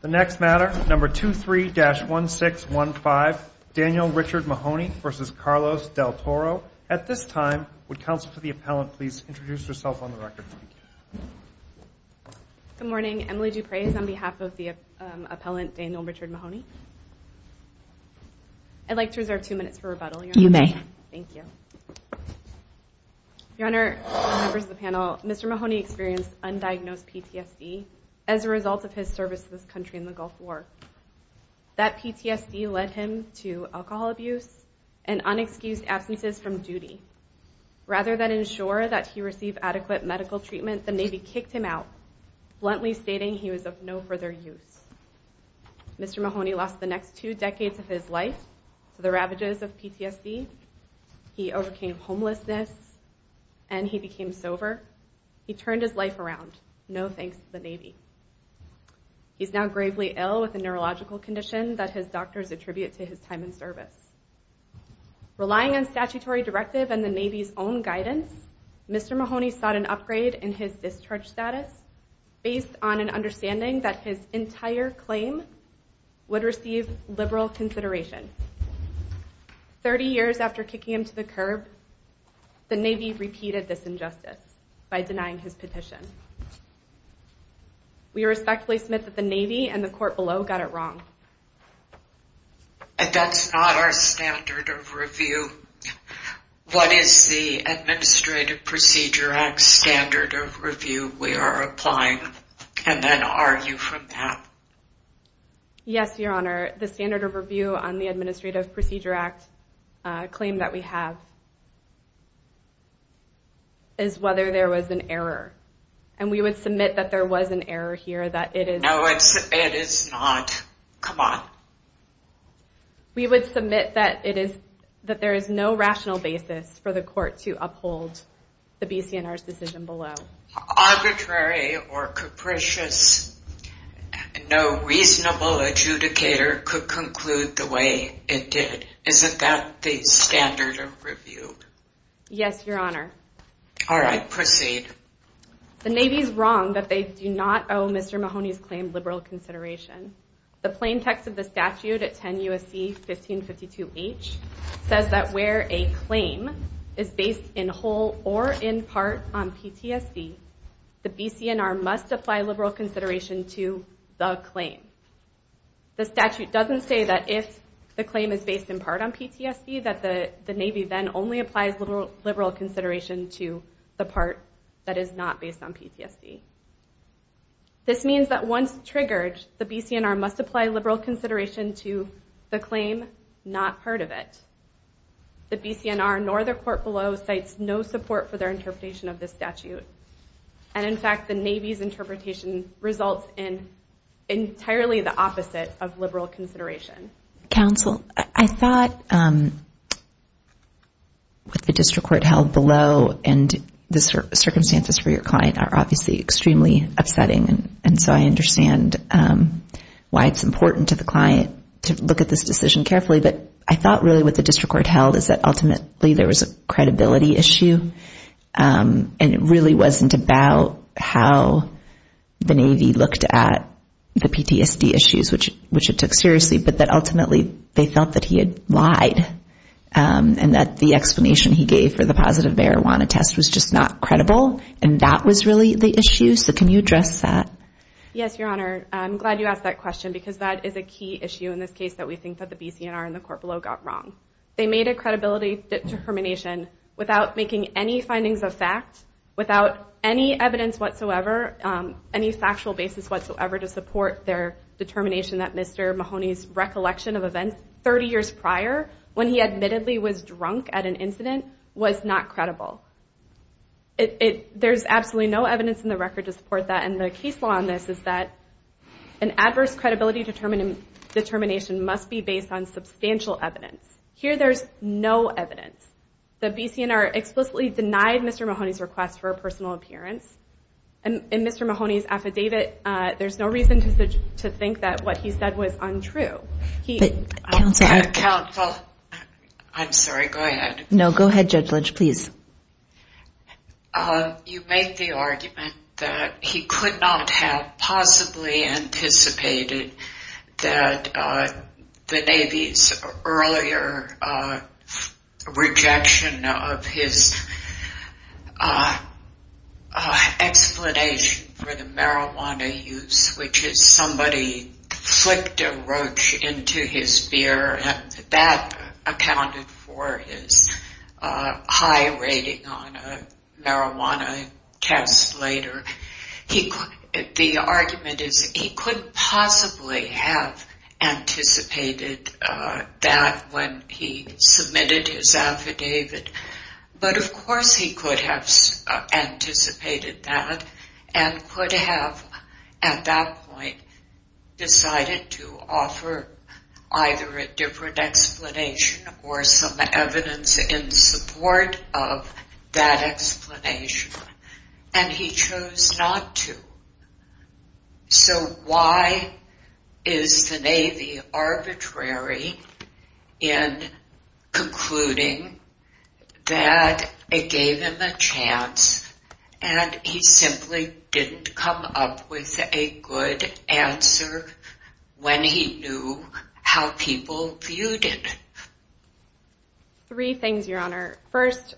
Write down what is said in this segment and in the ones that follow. The next matter, number 23-1615, Daniel Richard Mahoney v. Carlos Del Toro. At this time, would counsel for the appellant please introduce herself on the record. Good morning. Emily Duprez on behalf of the appellant Daniel Richard Mahoney. I'd like to reserve two minutes for rebuttal, Your Honor. You may. Thank you. Your Honor, members of the panel, Mr. Mahoney experienced undiagnosed PTSD as a result of his service to this country in the Gulf War. That PTSD led him to alcohol abuse and unexcused absences from duty. Rather than ensure that he received adequate medical treatment, the Navy kicked him out, bluntly stating he was of no further use. Mr. Mahoney lost the next two decades of his life to the ravages of PTSD. He overcame homelessness and he became sober. He turned his life around, no thanks to the Navy. He's now gravely ill with a neurological condition that his doctors attribute to his time in service. Relying on statutory directive and the Navy's own guidance, Mr. Mahoney sought an upgrade in his discharge status based on an understanding that his entire claim would receive liberal consideration. Thirty years after kicking him to the curb, the Navy repeated this injustice by denying his petition. We respectfully submit that the Navy and the court below got it wrong. And that's not our standard of review. What is the Administrative Procedure Act standard of review we are applying? And then argue from that. Yes, Your Honor, the standard of review on the Administrative Procedure Act claim that we have is whether there was an error. And we would submit that there was an error here, that it is... No, it is not. Come on. We would submit that there is no rational basis for the court to uphold the BC&R's decision below. Arbitrary or capricious, no reasonable adjudicator could conclude the way it did. Isn't that the standard of review? Yes, Your Honor. All right, proceed. The Navy is wrong that they do not owe Mr. Mahoney's claim liberal consideration. The plain text of the statute at 10 U.S.C. 1552H says that where a claim is based in whole or in part on PTSD, the BC&R must apply liberal consideration to the claim. The statute doesn't say that if the claim is based in part on PTSD that the Navy then only applies liberal consideration to the part that is not based on PTSD. This means that once triggered, the BC&R must apply liberal consideration to the claim, not part of it. The BC&R nor the court below cites no support for their interpretation of this statute. And in fact, the Navy's interpretation results in entirely the opposite of liberal consideration. Counsel, I thought what the district court held below and the circumstances for your client are obviously extremely upsetting. And so I understand why it's important to the client to look at this decision carefully. But I thought really what the district court held is that ultimately there was a credibility issue. And it really wasn't about how the Navy looked at the PTSD issues, which it took seriously, but that ultimately they felt that he had lied and that the explanation he gave for the positive marijuana test was just not credible. And that was really the issue. So can you address that? Yes, Your Honor. I'm glad you asked that question because that is a key issue in this case that we think that the BC&R and the court below got wrong. They made a credibility determination without making any findings of fact, without any evidence whatsoever, any factual basis whatsoever to support their determination that Mr. Mahoney's recollection of events 30 years prior when he admittedly was drunk at an incident was not credible. There's absolutely no evidence in the record to support that. And the case law on this is that an adverse credibility determination must be based on substantial evidence. Here there's no evidence. The BC&R explicitly denied Mr. Mahoney's request for a personal appearance. In Mr. Mahoney's affidavit, there's no reason to think that what he said was untrue. Counsel, I'm sorry, go ahead. No, go ahead, Judge Lynch, please. You make the argument that he could not have possibly anticipated that the Navy's earlier rejection of his explanation for the marijuana use, which is somebody flicked a roach into his beer and that accounted for his high rating on a marijuana test later. The argument is he could possibly have anticipated that when he submitted his affidavit. But of course he could have anticipated that and could have at that point decided to offer either a different explanation or some evidence in support of that explanation. And he chose not to. So why is the Navy arbitrary in concluding that it gave him a chance and he simply didn't come up with a good answer when he knew how people viewed it? Three things, Your Honor. First,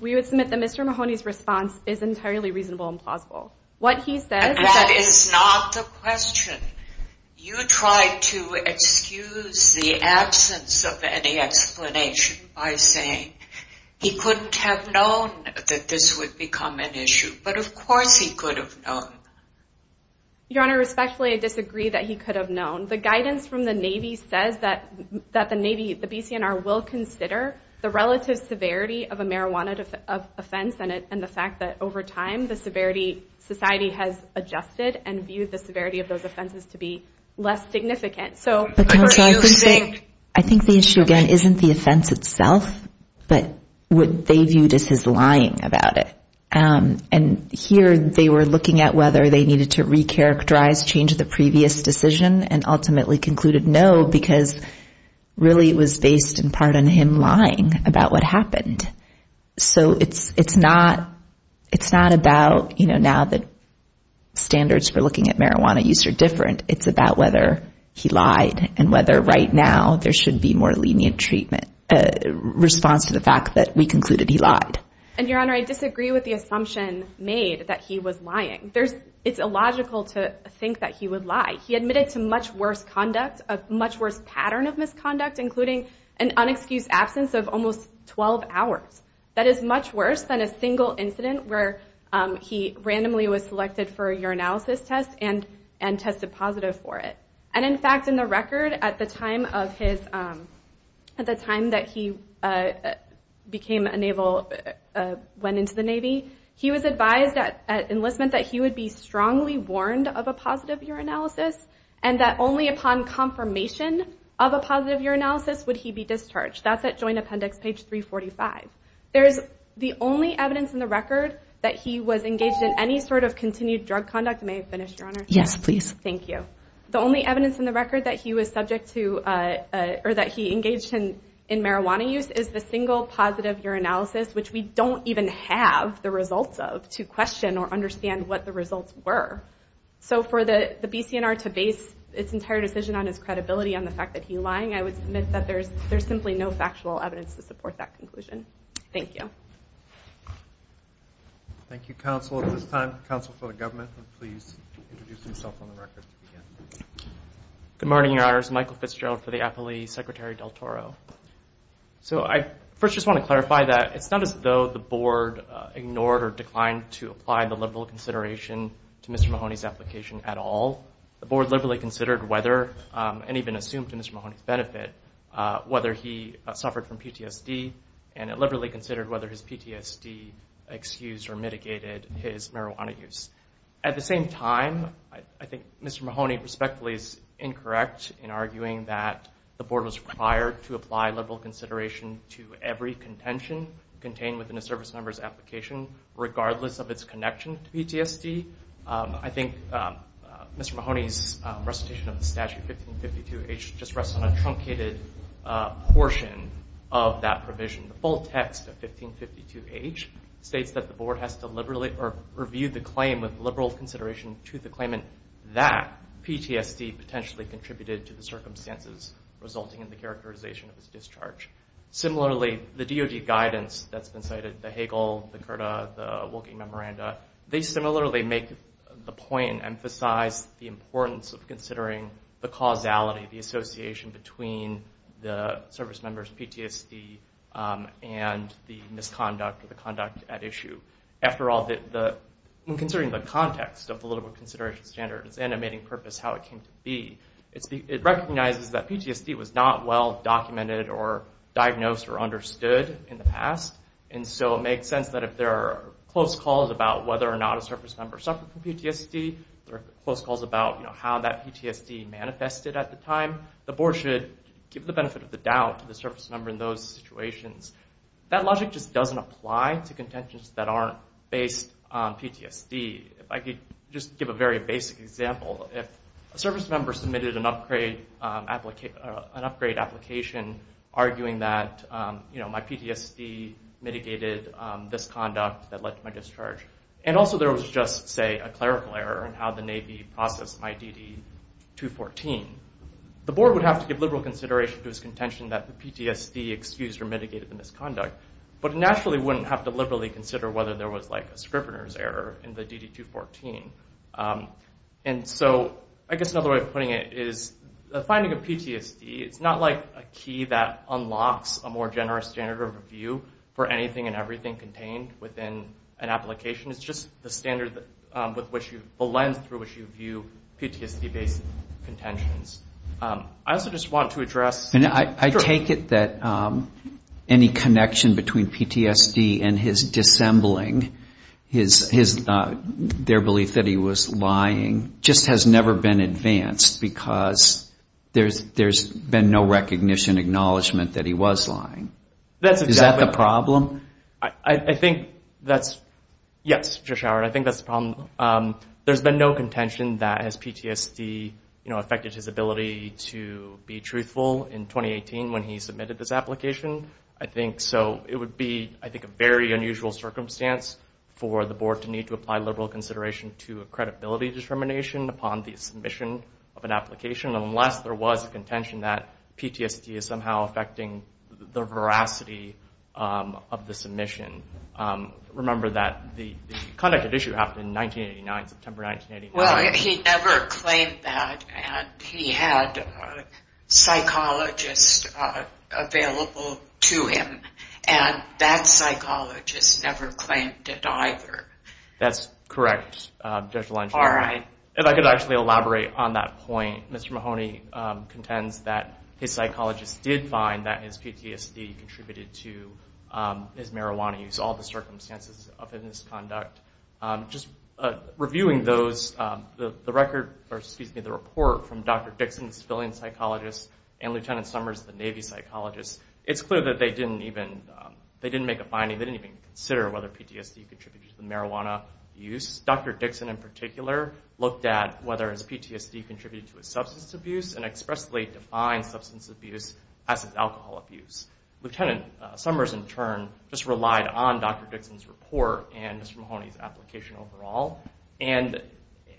we would submit that Mr. Mahoney's response is entirely reasonable and plausible. That is not the question. You tried to excuse the absence of any explanation by saying he couldn't have known that this would become an issue. But of course he could have known. Your Honor, respectfully, I disagree that he could have known. The guidance from the Navy says that the Navy, the BCNR, will consider the relative severity of a marijuana offense and the fact that over time the society has adjusted and viewed the severity of those offenses to be less significant. I think the issue again isn't the offense itself, but what they viewed as his lying about it. And here they were looking at whether they needed to re-characterize, change the previous decision, and ultimately concluded no because really it was based in part on him lying about what happened. So it's not about, you know, now that standards for looking at marijuana use are different. It's about whether he lied and whether right now there should be more lenient response to the fact that we concluded he lied. And, Your Honor, I disagree with the assumption made that he was lying. It's illogical to think that he would lie. He admitted to much worse conduct, a much worse pattern of misconduct, including an unexcused absence of almost 12 hours. That is much worse than a single incident where he randomly was selected for a urinalysis test and tested positive for it. And in fact, in the record, at the time that he went into the Navy, he was advised at enlistment that he would be strongly warned of a positive urinalysis and that only upon confirmation of a positive urinalysis would he be discharged. That's at Joint Appendix page 345. There's the only evidence in the record that he was engaged in any sort of continued drug conduct. May I finish, Your Honor? Yes, please. Thank you. The only evidence in the record that he was subject to or that he engaged in marijuana use is the single positive urinalysis, which we don't even have the results of to question or understand what the results were. So for the BCNR to base its entire decision on his credibility on the fact that he lied, I would submit that there's simply no factual evidence to support that conclusion. Thank you. Thank you, Counsel. At this time, Counsel for the Government would please introduce himself on the record to begin. Good morning, Your Honors. Michael Fitzgerald for the Appellee. Secretary Del Toro. So I first just want to clarify that it's not as though the Board ignored or declined to apply the liberal consideration to Mr. Mahoney's application at all. The Board liberally considered whether, and even assumed to Mr. Mahoney's benefit, whether he suffered from PTSD, and it liberally considered whether his PTSD excused or mitigated his marijuana use. At the same time, I think Mr. Mahoney respectfully is incorrect in arguing that the Board was required to apply liberal consideration to every contention contained within a service member's application, regardless of its connection to PTSD. I think Mr. Mahoney's recitation of the Statute 1552H just rests on a truncated portion of that provision. The full text of 1552H states that the Board has to review the claim with liberal consideration to the claimant that PTSD potentially contributed to the circumstances resulting in the characterization of his discharge. Similarly, the DOD guidance that's been cited, the Hagel, the CURTA, the Wilking Memoranda, they similarly make the point and emphasize the importance of considering the causality, the association between the service member's PTSD and the misconduct or the conduct at issue. After all, when considering the context of the liberal consideration standard, its animating purpose, how it came to be, it recognizes that PTSD was not well documented or diagnosed or understood in the past. And so it makes sense that if there are close calls about whether or not a service member suffered from PTSD, there are close calls about how that PTSD manifested at the time, the Board should give the benefit of the doubt to the service member in those situations. That logic just doesn't apply to contentions that aren't based on PTSD. I could just give a very basic example. If a service member submitted an upgrade application arguing that, you know, my PTSD mitigated misconduct that led to my discharge, and also there was just, say, a clerical error in how the Navy processed my DD-214, the Board would have to give liberal consideration to its contention that the PTSD excused or mitigated the misconduct, but naturally wouldn't have to liberally consider whether there was like a scrivener's error in the DD-214. And so I guess another way of putting it is the finding of PTSD, it's not like a key that unlocks a more generous standard of review for anything and everything contained within an application. It's just the standard with which you, the lens through which you view PTSD-based contentions. I also just want to address... And I take it that any connection between PTSD and his dissembling, their belief that he was lying, just has never been advanced because there's been no recognition, acknowledgement that he was lying. Is that the problem? I think that's, yes, Josh Howard, I think that's the problem. There's been no contention that his PTSD, you know, would be truthful in 2018 when he submitted this application. I think so. It would be, I think, a very unusual circumstance for the Board to need to apply liberal consideration to a credibility determination upon the submission of an application unless there was a contention that PTSD is somehow affecting the veracity of the submission. Remember that the conduct of issue happened in 1989, September 1989. Well, he never claimed that, and he had a psychologist available to him, and that psychologist never claimed it either. That's correct, Judge Blanchard. If I could actually elaborate on that point, Mr. Mahoney contends that his psychologist did find that his PTSD contributed to his marijuana use, all the circumstances of his misconduct. Just reviewing those, the report from Dr. Dixon, the civilian psychologist, and Lieutenant Summers, the Navy psychologist, it's clear that they didn't make a finding, they didn't even consider whether PTSD contributed to the marijuana use. Dr. Dixon, in particular, looked at whether his PTSD contributed to his substance abuse and expressly defined substance abuse as his alcohol abuse. Lieutenant Summers, in turn, just relied on Dr. Dixon's report and Mr. Mahoney's application overall. In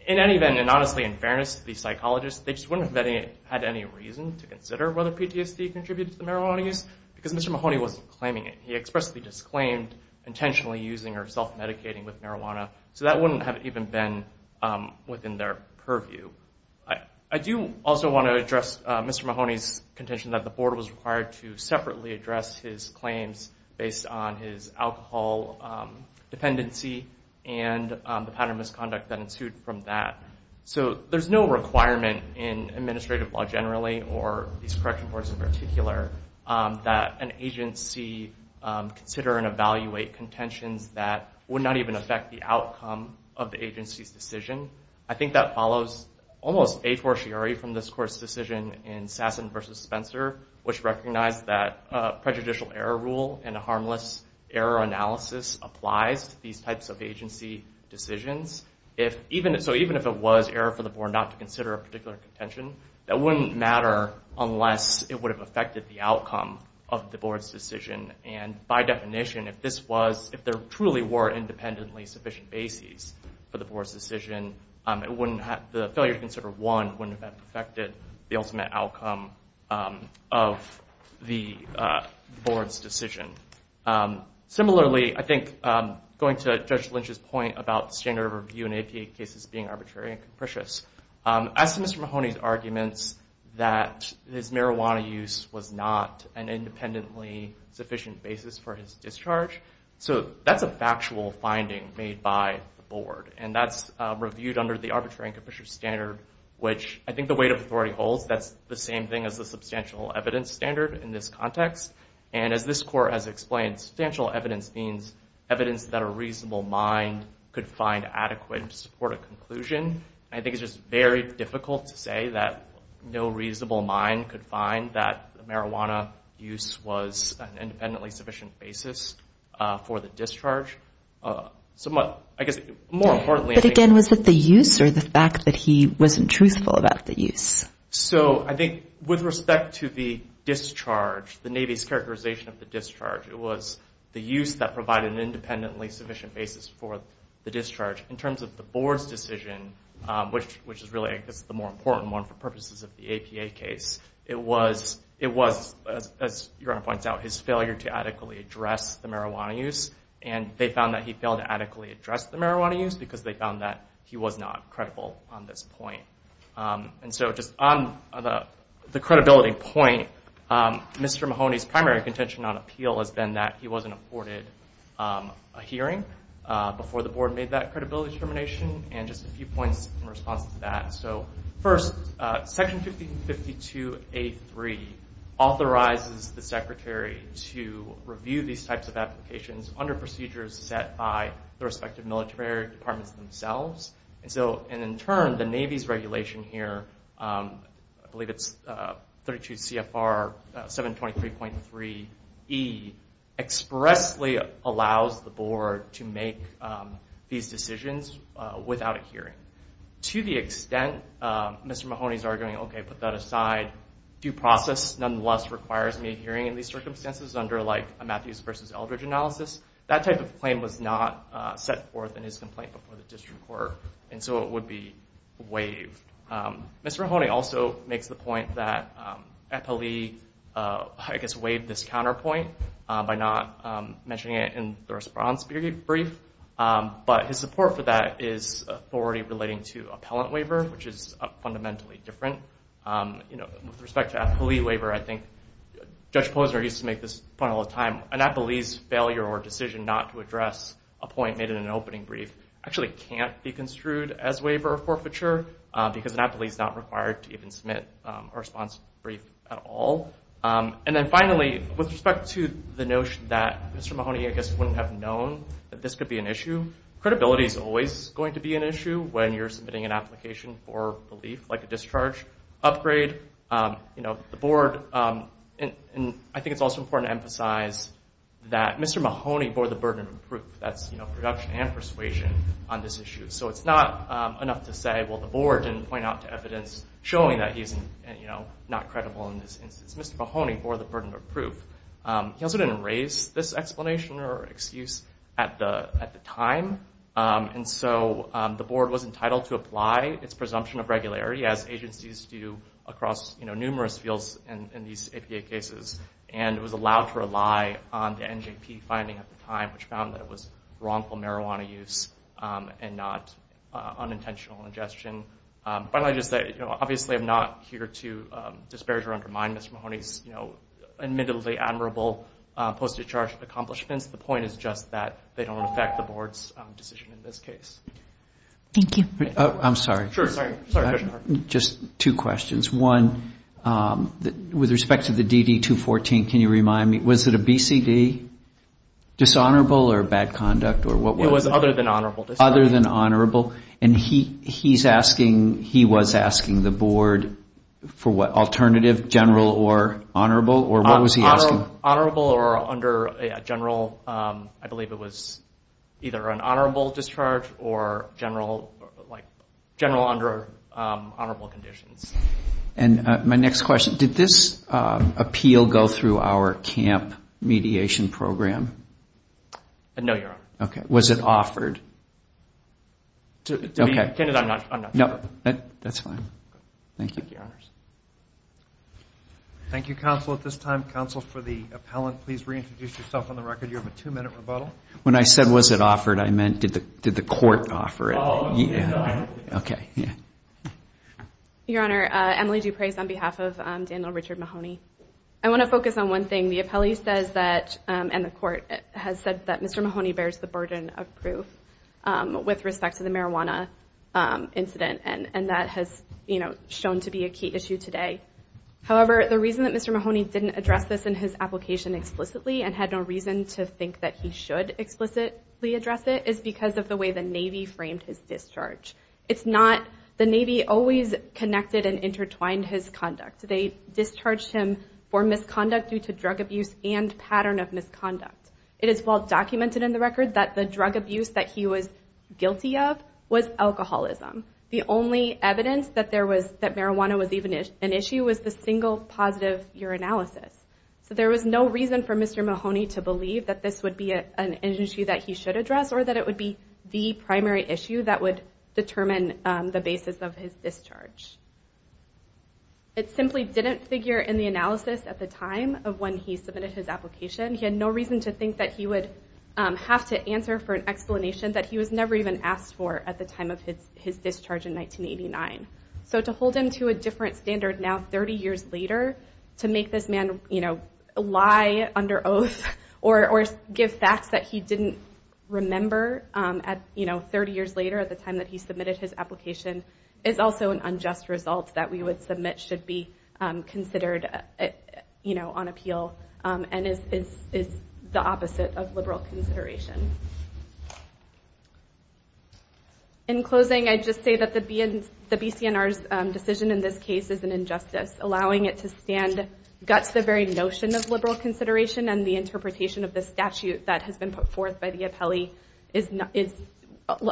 any event, and honestly, in fairness to the psychologist, they just wouldn't have had any reason to consider whether PTSD contributed to the marijuana use because Mr. Mahoney wasn't claiming it. He expressly disclaimed intentionally using or self-medicating with marijuana, so that wouldn't have even been within their purview. I do also want to address Mr. Mahoney's contention that the board was required to separately address his claims based on his alcohol dependency and the pattern of misconduct that ensued from that. There's no requirement in administrative law generally, or these correction boards in particular, that an agency consider and evaluate contentions that would not even affect the outcome of the agency's decision. I think that follows almost a fortiori from this court's decision in Sassen v. Spencer, which recognized that prejudicial error rule and a harmless error analysis applies to these types of agency decisions. Even if it was error for the board not to consider a particular contention, that wouldn't matter unless it would have affected the outcome of the board's decision. By definition, if there truly were independently sufficient bases for the board's decision, the failure to consider one wouldn't have affected the ultimate outcome of the board's decision. Similarly, I think going to Judge Lynch's point about standard of review in APA cases being arbitrary and capricious, as to Mr. Mahoney's arguments that his marijuana use was not an independently sufficient basis for his discharge, so that's a factual finding made by the board, and that's reviewed under the arbitrary and capricious standard, which I think the weight of authority holds. That's the same thing as the substantial evidence standard in this context, and as this court has explained, substantial evidence means evidence that a reasonable mind could find adequate to support a conclusion. I think it's just very difficult to say that no reasonable mind could find that marijuana use was an independently sufficient basis for the discharge. Somewhat, I guess, more importantly... But again, was it the use or the fact that he wasn't truthful about the use? I think with respect to the discharge, the Navy's characterization of the discharge, it was the use that provided an independently sufficient basis for the discharge. In terms of the board's decision, which is really, I guess, the more important one for purposes of the APA case, it was, as your Honor points out, his failure to adequately address the marijuana use, and they found that he failed to adequately address the marijuana use because they found that he was not credible on this point. Just on the credibility point, Mr. Mahoney's primary contention on appeal has been that he wasn't afforded a hearing before the board made that credibility determination, and just a few points in response to that. First, Section 1552A3 authorizes the Secretary to review these types of applications under procedures set by the respective military departments themselves. In turn, the Navy's regulation here, I believe it's 32 CFR 723.3E, expressly allows the board to make these decisions without a hearing. To the extent Mr. Mahoney's arguing, okay, put that aside, due process nonetheless requires me hearing in these circumstances under a Matthews versus Eldridge analysis, that type of claim was not set forth in his complaint before the district court, and so it would be waived. Mr. Mahoney also makes the point that Appellee, I guess, waived this counterpoint by not mentioning it in the response brief, but his support for that is authority relating to appellant waiver, which is fundamentally different. With respect to Appellee waiver, I think Judge Posner used to make this point all the time, an Appellee's failure or decision not to address a point made in an opening brief actually can't be construed as waiver or forfeiture because an Appellee's not required to even submit a response brief at all. And then finally, with respect to the notion that Mr. Mahoney, I guess, wouldn't have known that this could be an issue, credibility's always going to be an issue when you're submitting an application for relief, like a discharge upgrade. You know, the board, and I think it's also important to emphasize that Mr. Mahoney bore the burden of proof. That's production and persuasion on this issue. So it's not enough to say, well, the board didn't point out to evidence showing that he's not credible in this instance. Mr. Mahoney bore the burden of proof. He also didn't raise this explanation or excuse at the time. And so the board was entitled to apply its presumption of regularity as agencies do across numerous fields in these APA cases. And it was allowed to rely on the NJP finding at the time, which found that it was wrongful marijuana use and not unintentional ingestion. Finally, I'll just say, obviously I'm not here to disparage or undermine Mr. Mahoney's admittedly admirable post-discharge accomplishments. The point is just that they don't affect the board's decision in this case. Thank you. I'm sorry. Sure. Sorry. Just two questions. One, with respect to the DD-214, can you remind me, was it a BCD? Dishonorable or bad conduct? It was other than honorable discharge. Other than honorable. And he's asking, he was asking the board for what alternative, general or honorable? Or what was he asking? Honorable or under a general, I believe it was either an honorable discharge or general under honorable conditions. And my next question, did this appeal go through our camp mediation program? No, Your Honor. Okay. Was it offered? To be candid, I'm not sure. No. That's fine. Thank you. Thank you, counsel. At this time, counsel, for the appellant, please reintroduce yourself on the record. You have a two-minute rebuttal. When I said was it offered, I meant did the court offer it? Okay. Your Honor, Emily Duprez on behalf of Daniel Richard Mahoney. I want to focus on one thing. The appellee says that, and the court has said that Mr. Mahoney bears the burden of proof with respect to the marijuana incident. And that has, you know, shown to be a key issue today. However, the reason that Mr. Mahoney didn't address this in his application explicitly and had no reason to think that he should explicitly address it is because of the way the Navy framed his discharge. It's not, the Navy always connected and intertwined his conduct. They discharged him for misconduct due to drug abuse and pattern of misconduct. It is well documented in the record that the drug abuse that he was guilty of was alcoholism. The only evidence that there was, that marijuana was even an issue was the single positive urinalysis. So there was no reason for Mr. Mahoney to believe that this would be an issue that he should address or that it would be the primary issue that would determine the basis of his discharge. It simply didn't figure in the analysis at the time of when he submitted his application. He had no reason to think that he would have to answer for an explanation that he was never even asked for at the time of his discharge in 1989. So to hold him to a different standard now 30 years later to make this man lie under oath or give facts that he didn't remember 30 years later at the time that he submitted his application is also an unjust result that we would submit should be considered on appeal and is the opposite of liberal consideration. In closing, I'd just say that the BCNR's decision in this case is an injustice allowing it to stand guts the very notion of liberal consideration and the interpretation of the statute that has been put forth by the appellee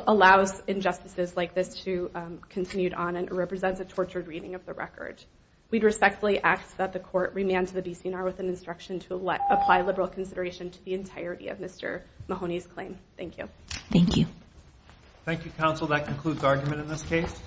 allows injustices like this to continue on and represents a tortured reading of the record. We'd respectfully ask that the court remand to the BCNR with an instruction to apply liberal consideration to the entirety of Mr. Mahoney's claim. Thank you. Thank you. Thank you, counsel. That concludes argument in this case.